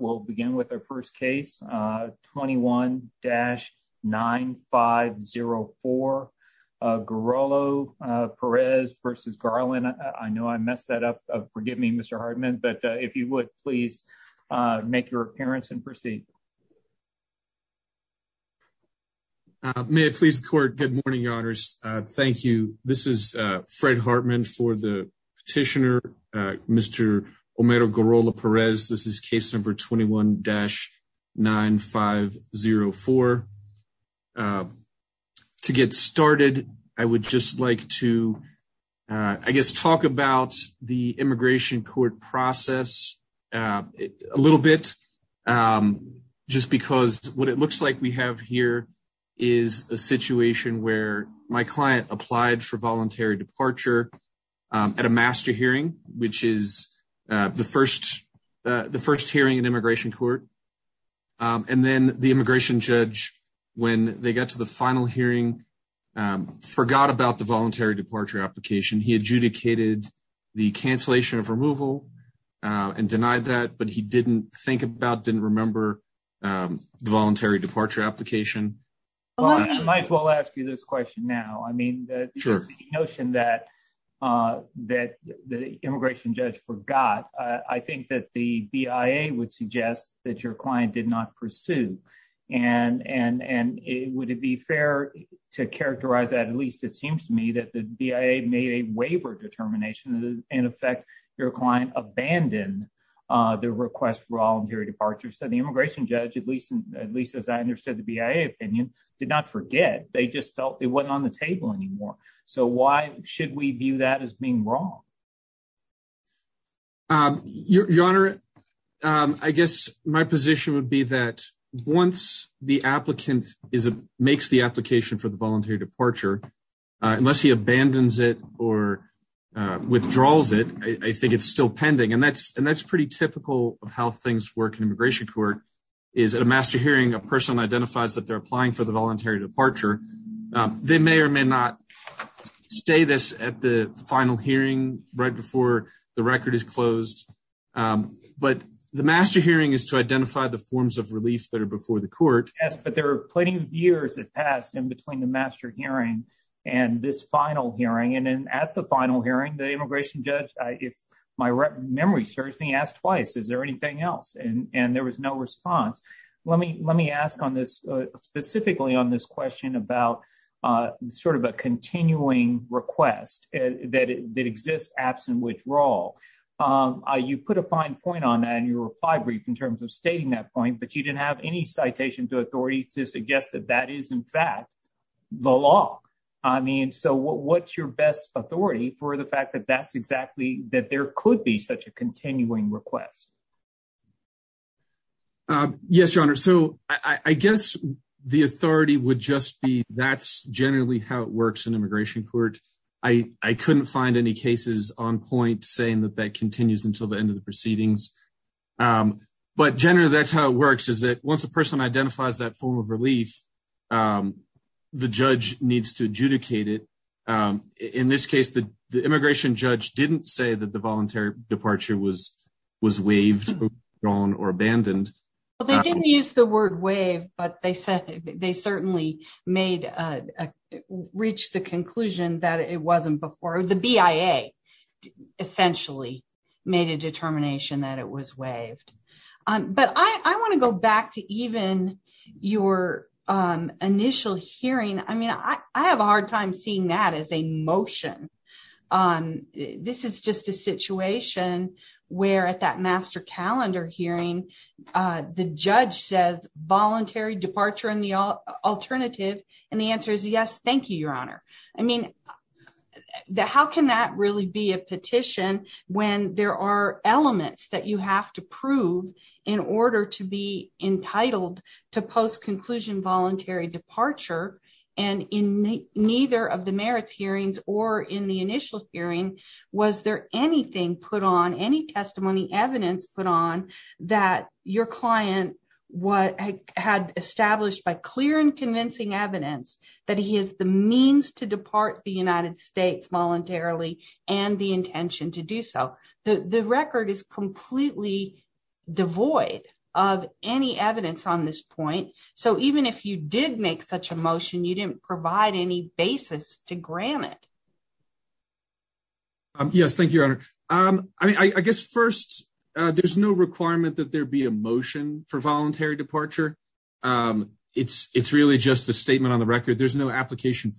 will begin with our first case, 21-9504. Garrola-Perez v. Garland. I know I messed that up, forgive me Mr. Hartman, but if you would please make your appearance and proceed. May it please the court, good morning your honors. Thank you. This is Fred Hartman for the 21-9504. To get started, I would just like to, I guess, talk about the immigration court process a little bit, just because what it looks like we have here is a situation where my client applied for voluntary departure at a master hearing, which is the first hearing in immigration court, and then the immigration judge, when they got to the final hearing, forgot about the voluntary departure application. He adjudicated the cancellation of removal and denied that, but he didn't think about, didn't remember the voluntary departure application. Well, I might as well ask you this question now. I mean, the notion that the immigration judge forgot, I think that the BIA would suggest that your client did not pursue, and would it be fair to characterize that? At least it seems to me that the BIA made a waiver determination, in effect, your client abandoned the request for voluntary departure. So the immigration judge, at least as I understood the BIA opinion, did not forget. They just felt it wasn't on the table anymore. So why should we view that as being wrong? Your honor, I guess my position would be that once the applicant makes the application for the voluntary departure, unless he abandons it or withdraws it, I think it's still pending. And that's pretty typical of how things work in immigration court, is at a master hearing, a person identifies that they're applying for the voluntary departure. They may or may not stay this at the final hearing right before the record is closed. But the master hearing is to identify the forms of relief that are before the court. Yes, but there are plenty of years that passed in between the master hearing and this final hearing. And then at the final hearing, the immigration judge, if my memory serves me, asked twice, is there anything else? And there was no response. Let me ask on this, specifically on this question about sort of a continuing request that exists absent withdrawal. You put a fine point on that, and you were fibrous in terms of stating that point, but you didn't have any citation to authority to suggest that that is, in fact, the law. I mean, so what's your best authority for the fact that that's exactly that there could be such a continuing request? Yes, your honor. So I guess the authority would just be that's generally how it works in immigration court. I couldn't find any cases on point saying that that continues until the end of the proceedings. But generally, that's how it works, is that once a person identifies that form of relief, the judge needs to adjudicate it. In this case, the immigration judge didn't say that the voluntary departure was waived, withdrawn, or abandoned. Well, they didn't use the word waive, but they said they certainly reached the conclusion that it wasn't before the BIA essentially made a determination that it was waived. But I want to go back to even your initial hearing. I mean, I have a hard time seeing that as a motion. This is just a situation where at that master calendar hearing, the judge says voluntary departure and the alternative, and the answer is yes, thank you, your honor. I mean, how can that really be a petition when there are elements that you have to prove in order to be entitled to post-conclusion voluntary departure? And in neither of the merits hearings or in the initial hearing, was there anything put on, any testimony evidence put on that your client had established by clear and convincing evidence that he has the means to United States voluntarily and the intention to do so? The record is completely devoid of any evidence on this point. So even if you did make such a motion, you didn't provide any basis to grant it. Yes, thank you, your honor. I mean, I guess first, there's no requirement that there be a motion for voluntary departure. It's really just a statement on the record. There's no cancellation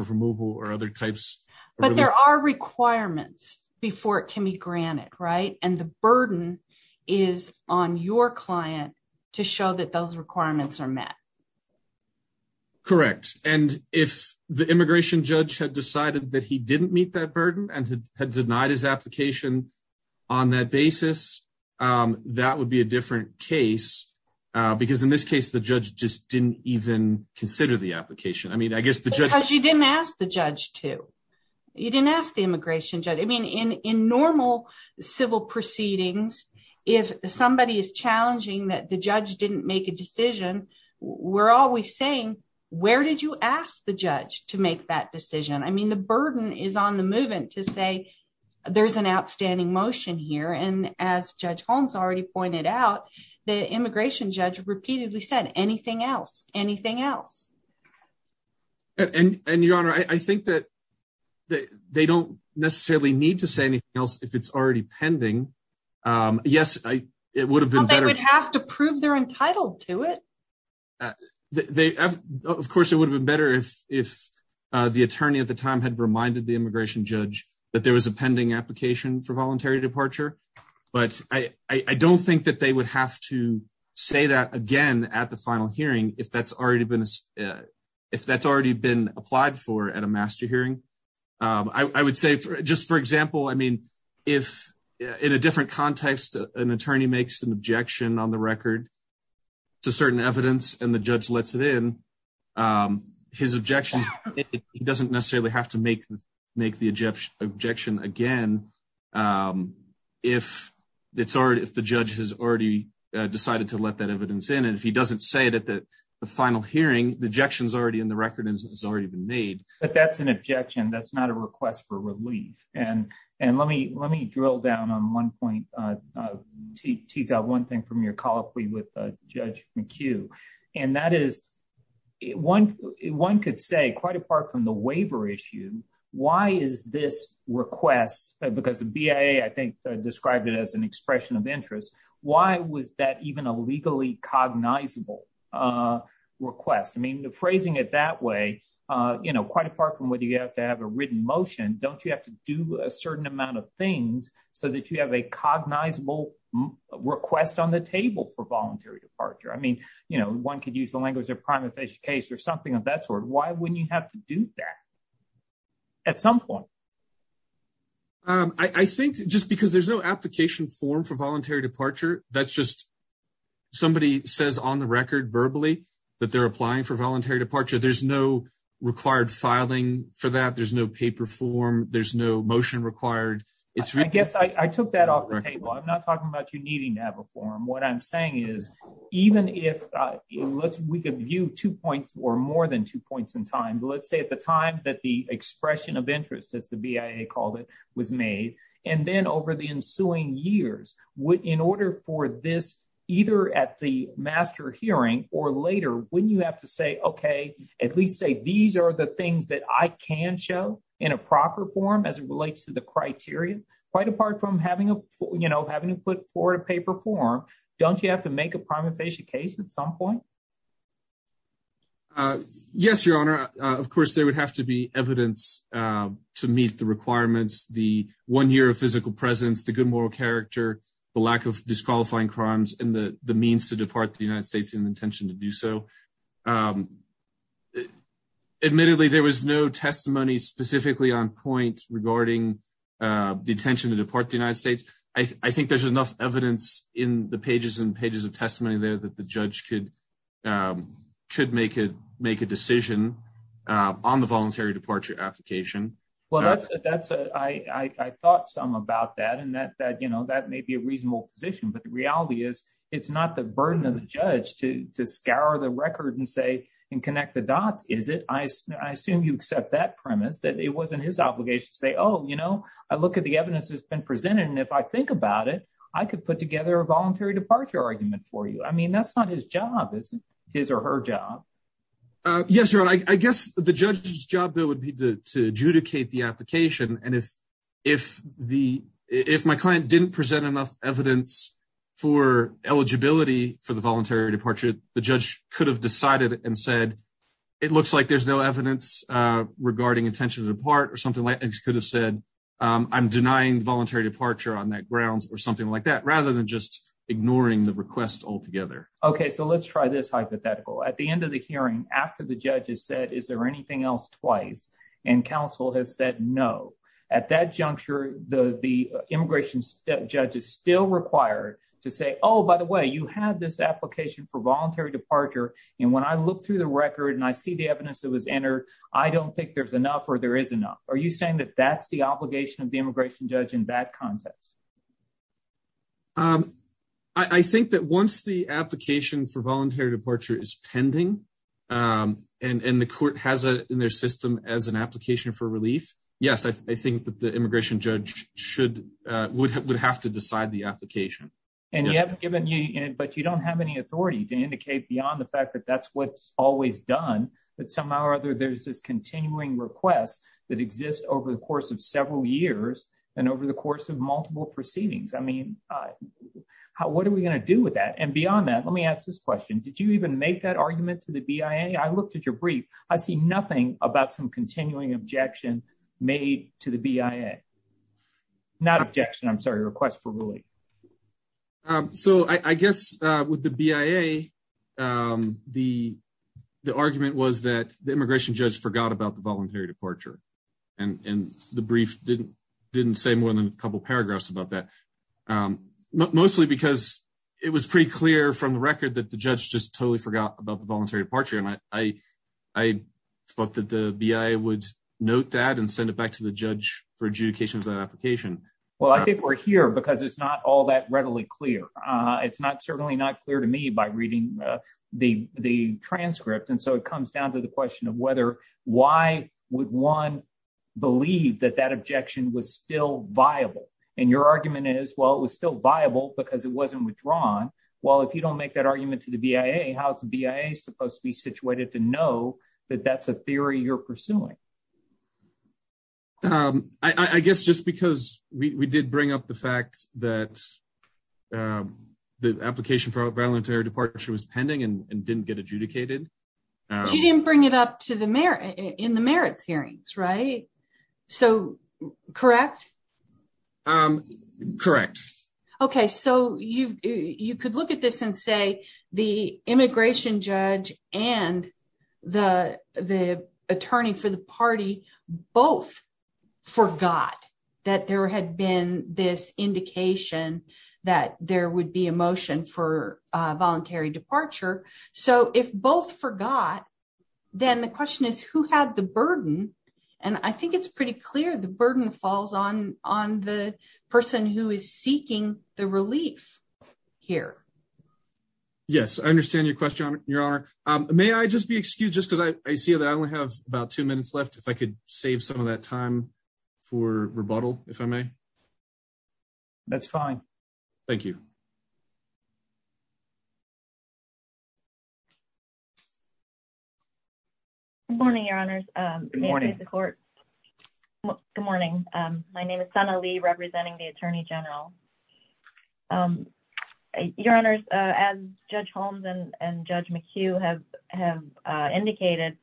of removal or other types. But there are requirements before it can be granted, right? And the burden is on your client to show that those requirements are met. Correct. And if the immigration judge had decided that he didn't meet that burden and had denied his application on that basis, that would be a different case because in this case, the judge just didn't even consider the application. I mean, I guess the judge... Because you didn't ask the judge to. You didn't ask the immigration judge. I mean, in normal civil proceedings, if somebody is challenging that the judge didn't make a decision, we're always saying, where did you ask the judge to make that decision? I mean, the burden is on the movement to say, there's an outstanding motion here. And as Judge Holmes already pointed out, the immigration judge repeatedly said, anything else, anything else. And Your Honor, I think that they don't necessarily need to say anything else if it's already pending. Yes, it would have been better. They would have to prove they're entitled to it. Of course, it would have been better if the attorney at the time had reminded the immigration judge that there was a pending application for voluntary departure. But I don't think that they would have to say that again at the final hearing if that's already been applied for at a master hearing. I would say, just for example, I mean, if in a different context, an attorney makes an objection on the record to certain evidence and the judge lets it in, his objection, he doesn't necessarily have to make the objection again if the judge has already decided to let that evidence in. And if he doesn't say it at the final hearing, the objection's already in the record and it's already been made. But that's an objection. That's not a request for relief. And let me drill down on one point, tease out one thing from your colloquy with Judge McHugh. And that is, one could say, quite apart from the waiver issue, why is this request, because the BIA, I think, described it as an expression of interest, why was that even a legally cognizable request? I mean, phrasing it that way, quite apart from whether you have to have a written motion, don't you have to do a certain amount of things so that you have a cognizable request on the table for voluntary departure? I mean, one could use the language of a primary case or something of that sort. Why wouldn't you have to do that at some point? I think just because there's no application form for voluntary departure, that's just somebody says on the record verbally that they're applying for voluntary departure. There's no required filing for that. There's no paper form. There's no motion required. I guess I took that off the table. I'm not talking about you needing to have a form. What I'm saying is, even if we could view two points or more than two points in time, let's say at the time that the expression of interest, as the BIA called it, was made, and then over the ensuing years, in order for this, either at the master hearing or later, wouldn't you have to say, okay, at least say these are the things that I can show in a proper form as it relates to the criteria? Quite apart from having to put forward a paper form, don't you have to make a prima facie case at some point? Yes, Your Honor. Of course, there would have to be evidence to meet the requirements, the one year of physical presence, the good moral character, the lack of disqualifying crimes, and the means to depart the United States in the intention to do so. Admittedly, there was no testimony specifically on point regarding the intention to deport the United States. I think there's enough evidence in the pages and pages of testimony there that the judge could make a decision on the voluntary departure application. Well, I thought some about that, and that may be a reasonable position, but the reality is, it's not the burden of the judge to scour the record and say, and connect the dots, is it? I assume you accept that premise, that it wasn't his obligation to say, oh, you know, I look at the evidence that's been presented, and if I think about it, I could put together a voluntary departure argument for you. I mean, that's not his job, is it? His or her job. Yes, Your Honor. I guess the judge's job, though, would be to adjudicate the application, and if my client didn't present enough evidence for eligibility for the voluntary departure, the judge could have decided and said, it looks like there's no evidence regarding intentions of the part, or something like that, and could have said, I'm denying voluntary departure on that grounds, or something like that, rather than just ignoring the request altogether. Okay, so let's try this hypothetical. At the end of the hearing, after the judge has said, is there anything else, twice, and counsel has said no, at that juncture, the immigration judge is still required to say, oh, by the way, you had this application for voluntary departure, and when I look through the record, and I see the evidence that was entered, I don't think there's enough, or there is enough. Are you saying that that's the obligation of the immigration judge in that context? I think that once the application for voluntary departure is pending, and the court has it in their system as an application for relief, yes, I think that the the application. And you haven't given you, but you don't have any authority to indicate beyond the fact that that's what's always done, that somehow or other, there's this continuing request that exists over the course of several years, and over the course of multiple proceedings. I mean, what are we going to do with that? And beyond that, let me ask this question. Did you even make that argument to the BIA? I looked at your brief. I see nothing about some continuing objection made to the BIA. Not objection, I'm sorry, request for ruling. So I guess with the BIA, the argument was that the immigration judge forgot about the voluntary departure, and the brief didn't say more than a couple paragraphs about that. Mostly because it was pretty clear from the record that the judge just totally forgot about note that and send it back to the judge for adjudication of that application. Well, I think we're here because it's not all that readily clear. It's not certainly not clear to me by reading the transcript. And so it comes down to the question of whether, why would one believe that that objection was still viable? And your argument is, well, it was still viable because it wasn't withdrawn. Well, if you don't make that argument to the BIA, how's the BIA supposed to be situated to know that that's a theory you're pursuing? I guess just because we did bring up the fact that the application for voluntary departure was pending and didn't get adjudicated. You didn't bring it up in the merits hearings, right? So correct? Correct. Okay. So you could look at this and say the immigration judge and the attorney for the party both forgot that there had been this indication that there would be a motion for voluntary and I think it's pretty clear the burden falls on the person who is seeking the relief here. Yes. I understand your question, your honor. May I just be excused just because I see that I only have about two minutes left if I could save some of that time for rebuttal, if I may. That's fine. Thank you. Good morning, your honors. Good morning. My name is Sana Lee representing the attorney general. Your honors, as Judge Holmes and Judge McHugh have indicated,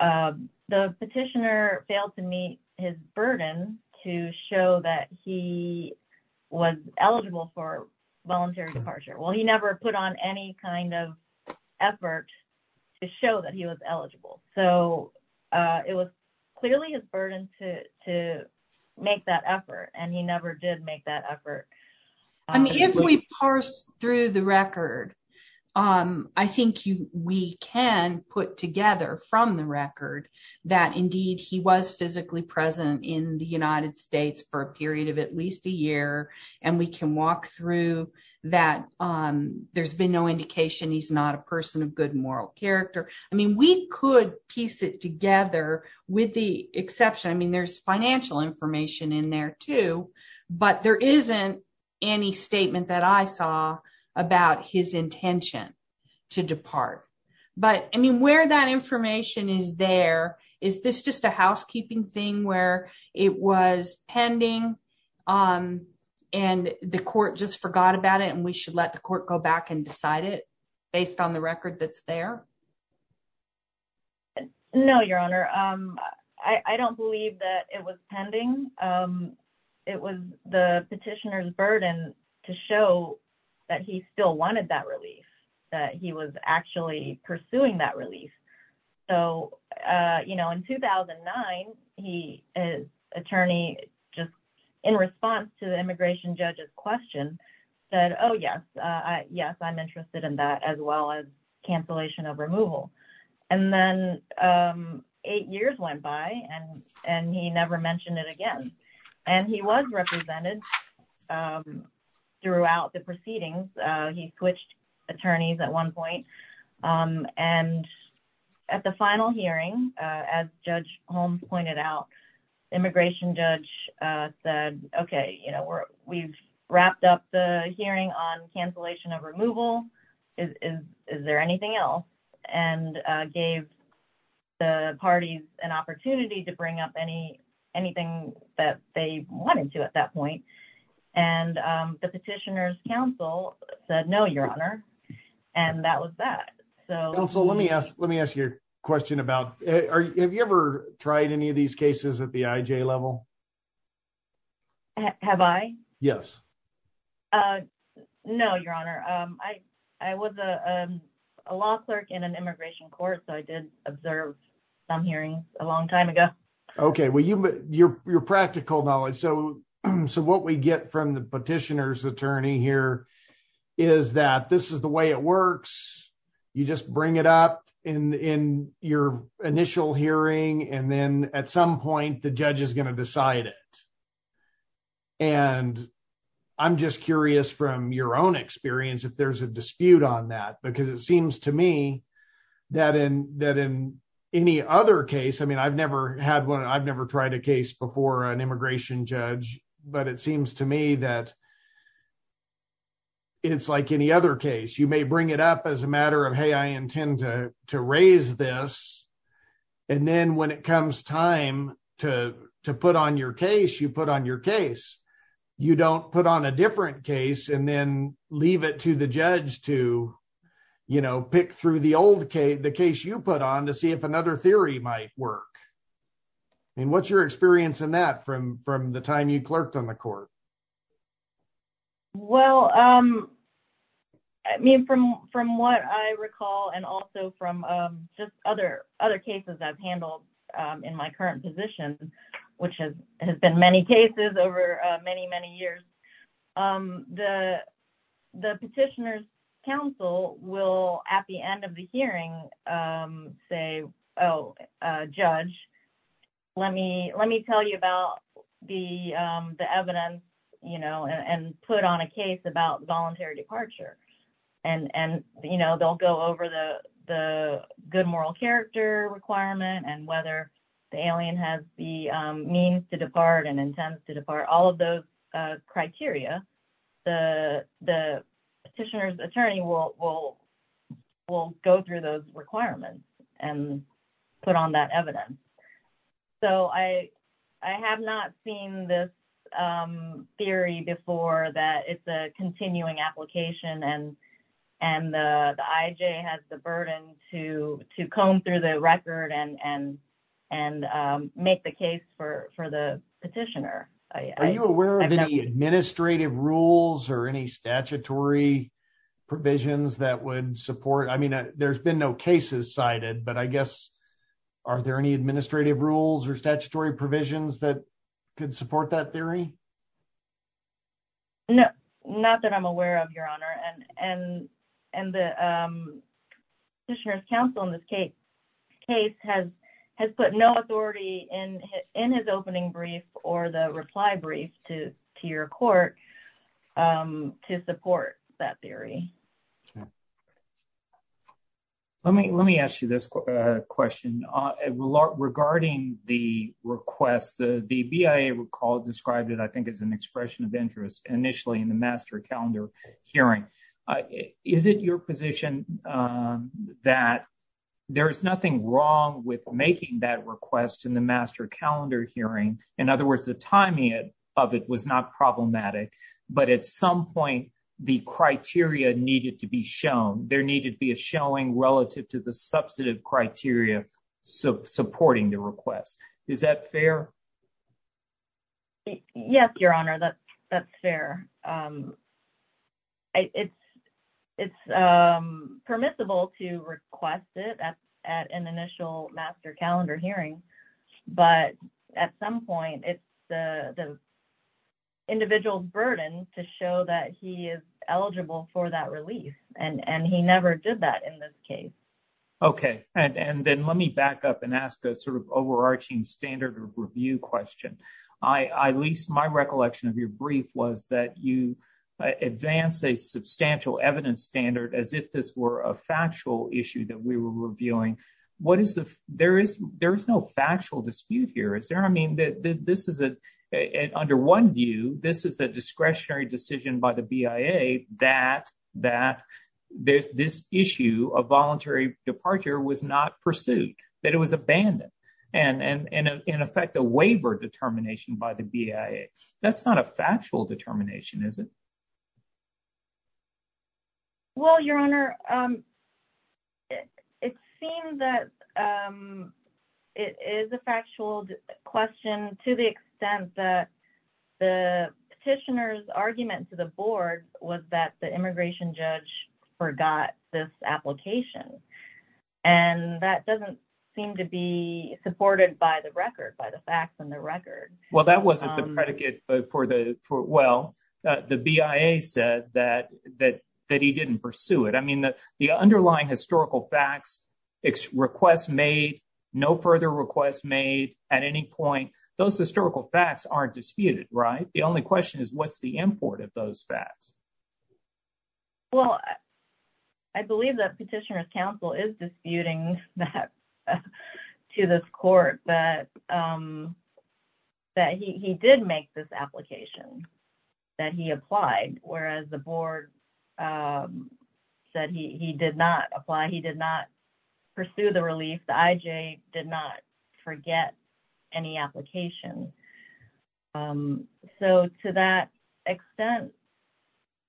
the petitioner failed to meet his burden to show that he was eligible for voluntary departure. Well, he never put on any kind of effort to show that he was eligible. So it was clearly his burden to make that effort and he never did make that effort. I mean, if we parse through the record, I think we can put together from the record that indeed he was physically present in the United States for a period of at least a year and we can walk through that there's been no indication he's not a person of good moral character. I mean, we could piece it together with the exception, I mean, there's financial information in there too, but there isn't any statement that I saw about his intention to depart. But I mean, where that information is there, is this just a housekeeping thing where it was pending and the court just forgot about it and we should let the court go back and decide it based on the record that's there? No, your honor. I don't believe that it was pending. It was the petitioner's burden to show that he still wanted that relief, that he was actually pursuing that relief. So, you know, in 2009, his attorney, just in response to the immigration judge's question, said, oh yes, I'm interested in that as well as cancellation of removal. And then eight years went by and he never mentioned it again. And he was represented throughout the proceedings. He switched attorneys at one point. And at the final hearing, as Judge Holmes pointed out, immigration judge said, okay, you know, we've wrapped up the hearing on cancellation of removal. Is there anything else? And gave the parties an opportunity to at that point. And the petitioner's counsel said, no, your honor. And that was that. Counsel, let me ask you a question about, have you ever tried any of these cases at the IJ level? Have I? Yes. No, your honor. I was a law clerk in an immigration court, so I did observe some hearings a long time ago. Okay. Well, your practical knowledge. So, what we get from the petitioner's attorney here is that this is the way it works. You just bring it up in your initial hearing. And then at some point, the judge is going to decide it. And I'm just curious from your own experience, if there's a dispute on that, because it seems to me that in any other case, I mean, I've never had one. I've never tried a case before an immigration judge, but it seems to me that it's like any other case. You may bring it up as a matter of, hey, I intend to raise this. And then when it comes time to put on your case, you put on your case. You don't put on a different case and then leave it to the judge to, you know, pick through the case you put on to see if another theory might work. I mean, what's your experience in that from the time you clerked on the court? Well, I mean, from what I recall, and also from just other cases I've handled in my current position, which has been many cases over many, many years, the petitioner's counsel will, at the end of the hearing, say, oh, judge, let me tell you about the evidence, you know, and put on a case about voluntary departure. And, you know, they'll go over the good moral character requirement and whether the alien has the means to depart and intends to depart, all of those criteria, the petitioner's attorney will go through those requirements and put on that evidence. So I have not seen this theory before that it's a continuing application and the IJ has the burden to comb through the case for the petitioner. Are you aware of any administrative rules or any statutory provisions that would support, I mean, there's been no cases cited, but I guess, are there any administrative rules or statutory provisions that could support that theory? No, not that I'm aware of, your honor, and the petitioner's counsel in this case has put no authority in his opening brief or the reply brief to your court to support that theory. Let me ask you this question. Regarding the request, the BIA described it, I think, as an expression of interest initially in the master calendar hearing. Is it your position that there is nothing wrong with making that request in the master calendar hearing? In other words, the timing of it was not problematic, but at some point the criteria needed to be shown. There needed to be a showing relative to the substantive criteria supporting the request. Is that fair? Yes, your honor, that's fair. It's permissible to request it at an initial master calendar hearing, but at some point, it's the individual's burden to show that he is eligible for that relief, and he never did that in this case. Okay, and then let me back up and ask a sort of overarching standard of review question. My recollection of your brief was that you advanced a substantial evidence standard as if this were a factual issue that we were reviewing. There is no factual dispute here, is there? I mean, under one view, this is a discretionary decision by the BIA that this issue of voluntary departure was not pursued, that it was abandoned, and in effect, a waiver determination by the BIA. That's not a factual determination, is it? Well, your honor, it seems that it is a factual question to the extent that the petitioner's argument to the board was that the immigration judge forgot this application, and that doesn't seem to be supported by the record, by the facts in the record. Well, that wasn't the predicate for the, well, the BIA said that he didn't pursue it. I mean, the underlying historical facts, requests made, no further requests made at any point, those historical facts aren't disputed, right? The only question is what's the import of those facts? Well, I believe that petitioner's counsel is disputing that to this court that that he did make this application, that he applied, whereas the board said he did not apply, he did not pursue the relief, the IJ did not forget any application. So, to that extent...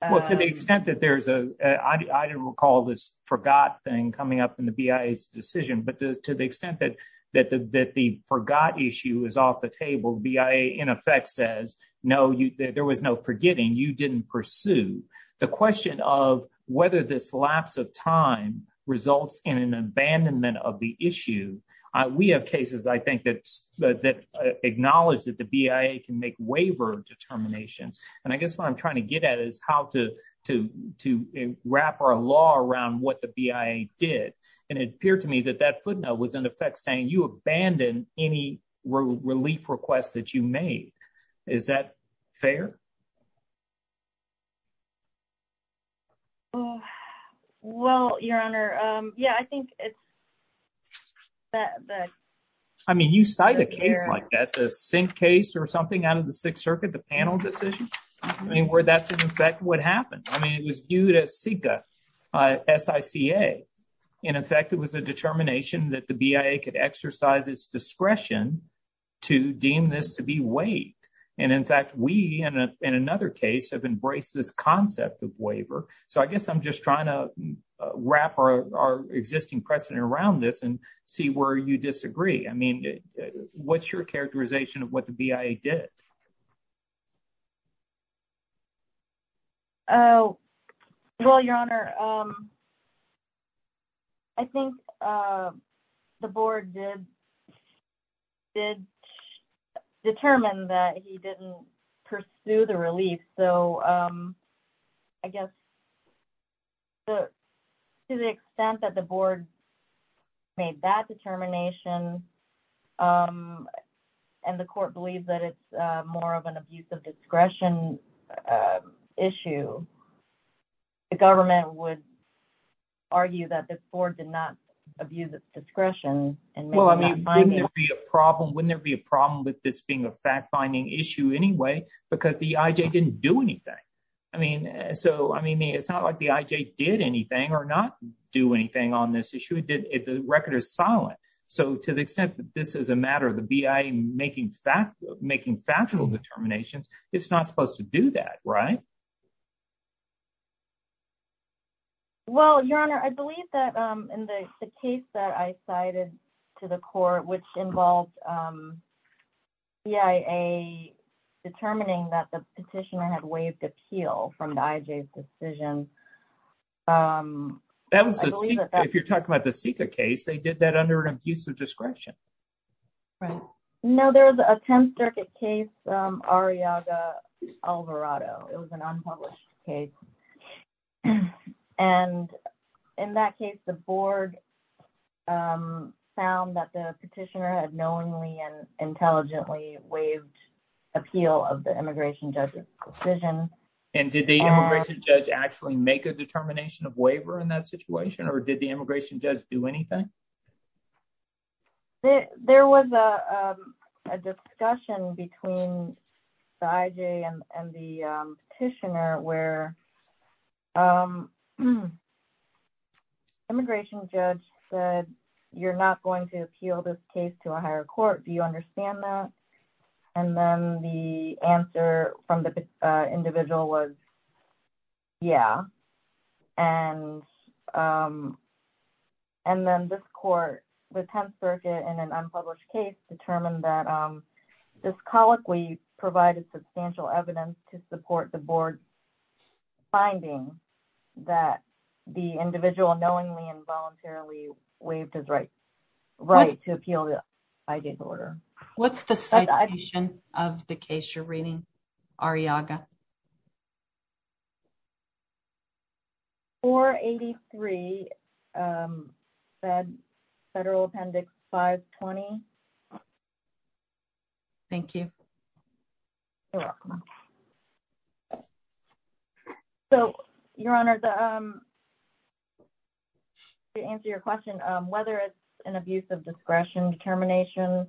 Well, to the extent that there's a, I don't recall this forgot thing coming up in the BIA's decision, but to the extent that the forgot issue is off the table, BIA, in effect, says, no, there was no forgetting, you didn't pursue. The question of whether this lapse of time results in an abandonment of the issue, we have cases, I think, that acknowledge that the BIA can make waiver determinations, and I guess what I'm trying to get at is how to wrap our law around what the BIA did, and it appeared to me that that footnote was, in effect, saying you abandon any relief request that you made. Is that fair? Well, Your Honor, yeah, I think it's... I mean, you cite a case like that, the Sink case or something out of the Sixth Circuit, the panel decision, I mean, where that's, in effect, what happened. I mean, it was viewed as SICA. In effect, it was a determination that the BIA could exercise its discretion to deem this to be weight, and in fact, we, in another case, have embraced this concept of waiver, so I guess I'm just trying to wrap our existing precedent around this and see where you disagree. I mean, what's your characterization of what the BIA did? Oh, well, Your Honor, I think the board did determine that he didn't pursue the relief, so I guess to the extent that the board made that determination and the court believes that it's more of an abuse of discretion issue, the government would argue that this board did not abuse its discretion. Well, I mean, wouldn't there be a problem with this being a fact-finding issue anyway? Because the IJ didn't do anything. I mean, it's not like the IJ did anything or not do anything on this issue. The record is solid. So to the extent that this is a matter of the BIA making factual determinations, it's not supposed to do that, right? Well, Your Honor, I believe that in the case that I cited to the court, which involved BIA determining that the petitioner had waived appeal from the IJ's decision. If you're talking about the SICA case, they did that under an abuse of discretion. Right. No, there was a 10th Circuit case, Ariaga, Alvarado. It was an unpublished case. And in that case, the board found that the petitioner had knowingly and intelligently waived appeal of the immigration judge's decision. And did the immigration judge actually make a determination of waiver in that situation, or did the immigration judge do anything? There was a discussion between the IJ and the petitioner where immigration judge said, you're not going to appeal this case to a higher court. Do you agree? And the individual was, yeah. And then this court, the 10th Circuit, in an unpublished case, determined that this colloquy provided substantial evidence to support the board's finding that the individual knowingly and voluntarily waived his right to appeal the IJ's order. What's the citation of the case you're reading, Ariaga? 483 Federal Appendix 520. Thank you. You're welcome. So, Your Honors, to answer your question, whether it's an abuse of discretion determination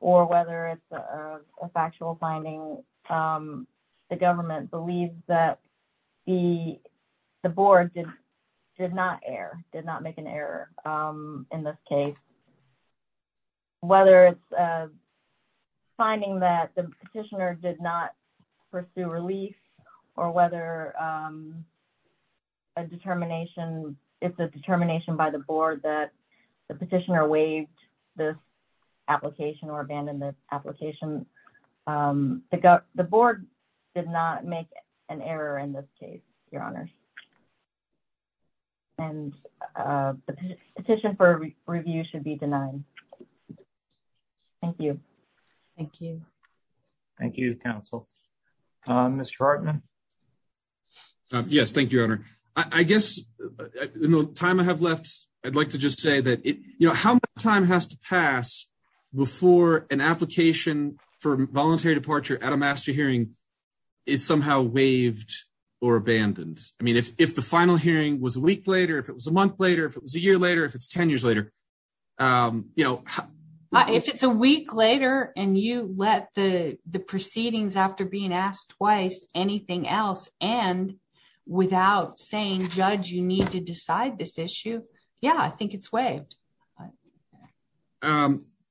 or whether it's a factual finding, the government believes that the board did not err, did not make an error in this case. Whether it's a finding that the petitioner did not pursue relief or whether it's a determination by the board that the petitioner waived this application or abandoned the application, the board did not make an error in this case, Your Honors. And the petition for review should be denied. Thank you. Thank you. Thank you, counsel. Mr. Hartman? Yes, thank you, Your Honor. I guess in the time I have left, I'd like to just say that, you know, how much time has to pass before an application for voluntary departure at a master hearing is somehow waived or abandoned? I mean, if the final hearing was a week later, if it was a month later, if it was a year later, if it's 10 years later, you know. If it's a week later and you let the proceedings after being asked twice, anything else, and without saying, judge, you need to decide this issue. Yeah, I think it's waived.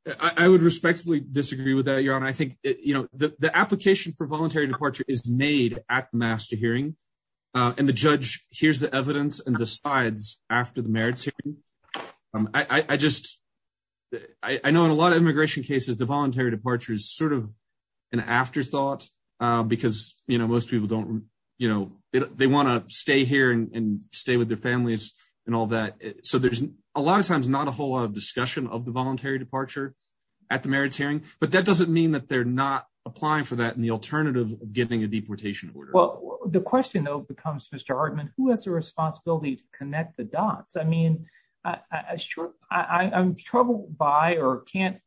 I would respectfully disagree with that, Your Honor. I think, you know, the application for voluntary departure is made at the master hearing and the judge hears the evidence and decides after the merits hearing. I just, I know in a lot of immigration cases, the voluntary departure is sort of an afterthought because, you know, most people don't, you know, they want to stay here and stay with their families and all that. So there's a lot of times not a whole lot of discussion of the voluntary departure at the merits hearing, but that doesn't mean that they're not applying for that in the alternative of giving a deportation order. Well, the question, though, becomes, Mr. Hartman, who has the responsibility to connect the dots? I mean, I'm troubled by or can't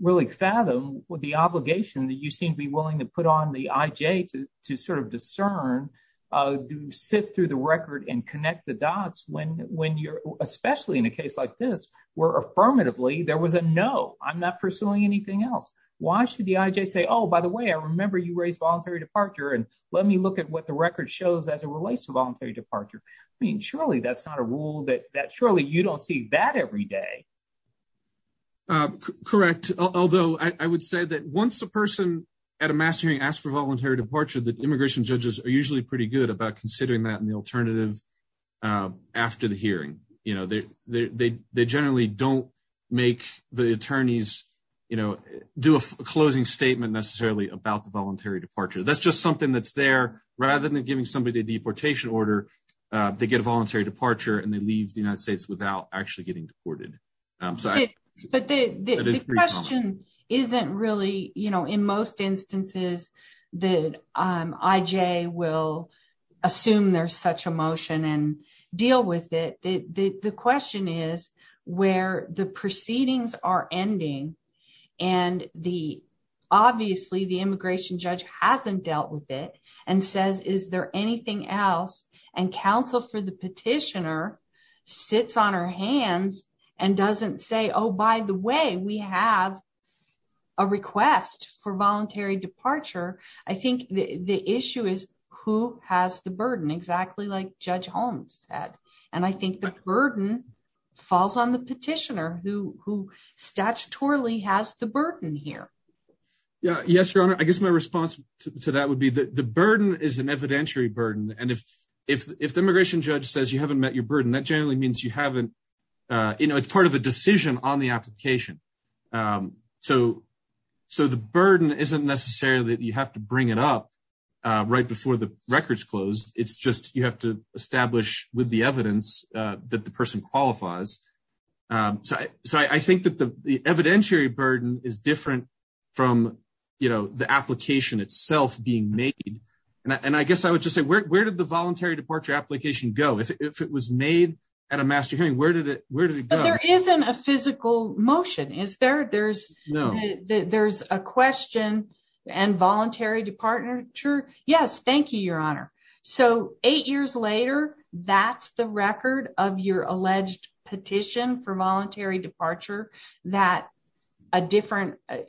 really fathom the obligation that you seem to be willing to put on the IJ to sort of discern, to sit through the record and connect the dots when you're, especially in a case like this, where affirmatively there was a no, I'm not pursuing anything else. Why should the IJ say, oh, by the way, I remember you raised voluntary departure and let me look at what the record shows as it relates to voluntary departure. I mean, surely that's not a rule that surely you don't see that every day. Correct. Although I would say that once a person at a mass hearing asks for voluntary departure, that immigration judges are usually pretty good about considering that in the alternative after the hearing. You know, they generally don't make the attorneys, you know, do a closing statement necessarily about the voluntary departure. That's just something that's there. Rather than giving somebody a deportation order, they get a voluntary departure and they leave the United States without actually getting deported. But the question isn't really, you know, in most instances, the IJ will assume there's such a motion and deal with it. The question is where the proceedings are ending and the obviously the immigration judge hasn't dealt with it and says, is there anything else? And counsel for the petitioner sits on her hands and doesn't say, oh, by the way, we have a request for voluntary departure. I think the issue is who has the burden exactly like Judge Holmes said. And I think the burden falls on the petitioner who statutorily has the burden here. Yeah. Yes, your honor. I guess my response to that would be that the burden is an evidentiary burden. And if the immigration judge says you haven't met your burden, that generally means you haven't. You know, it's part of a decision on the application. So the burden isn't necessarily that you have to bring it up right before the records close. It's just you have to establish with the evidence that the person qualifies. So I think that the evidentiary burden is different from the application itself being made. And I guess I would just say, where did the voluntary departure application go? If it was made at a master hearing, where did it go? There isn't a physical motion, is there? There's a question and voluntary departure. Yes. Thank you, your honor. So eight years later, that's the record of your alleged petition for voluntary departure. The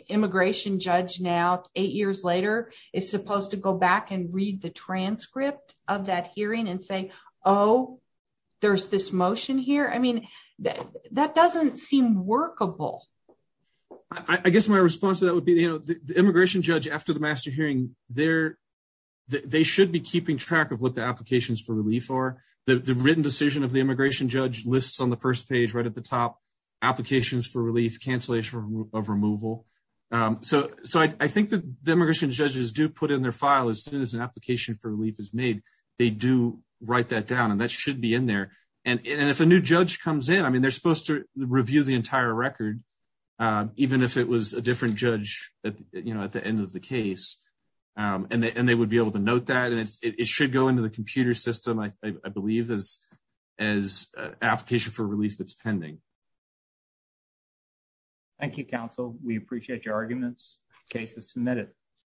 immigration judge now, eight years later, is supposed to go back and read the transcript of that hearing and say, oh, there's this motion here. I mean, that doesn't seem workable. I guess my response to that would be, you know, the immigration judge after the master hearing, they should be keeping track of what the applications for relief are. The written decision of the immigration judge lists on the first page right at the top, applications for relief. So I think the immigration judges do put in their file as soon as an application for relief is made, they do write that down and that should be in there. And if a new judge comes in, I mean, they're supposed to review the entire record, even if it was a different judge, you know, at the end of the case. And they would be able to note that and it should go into the computer system, I believe, as an application for relief that's pending. Thank you, counsel. We appreciate your comments, arguments, cases submitted.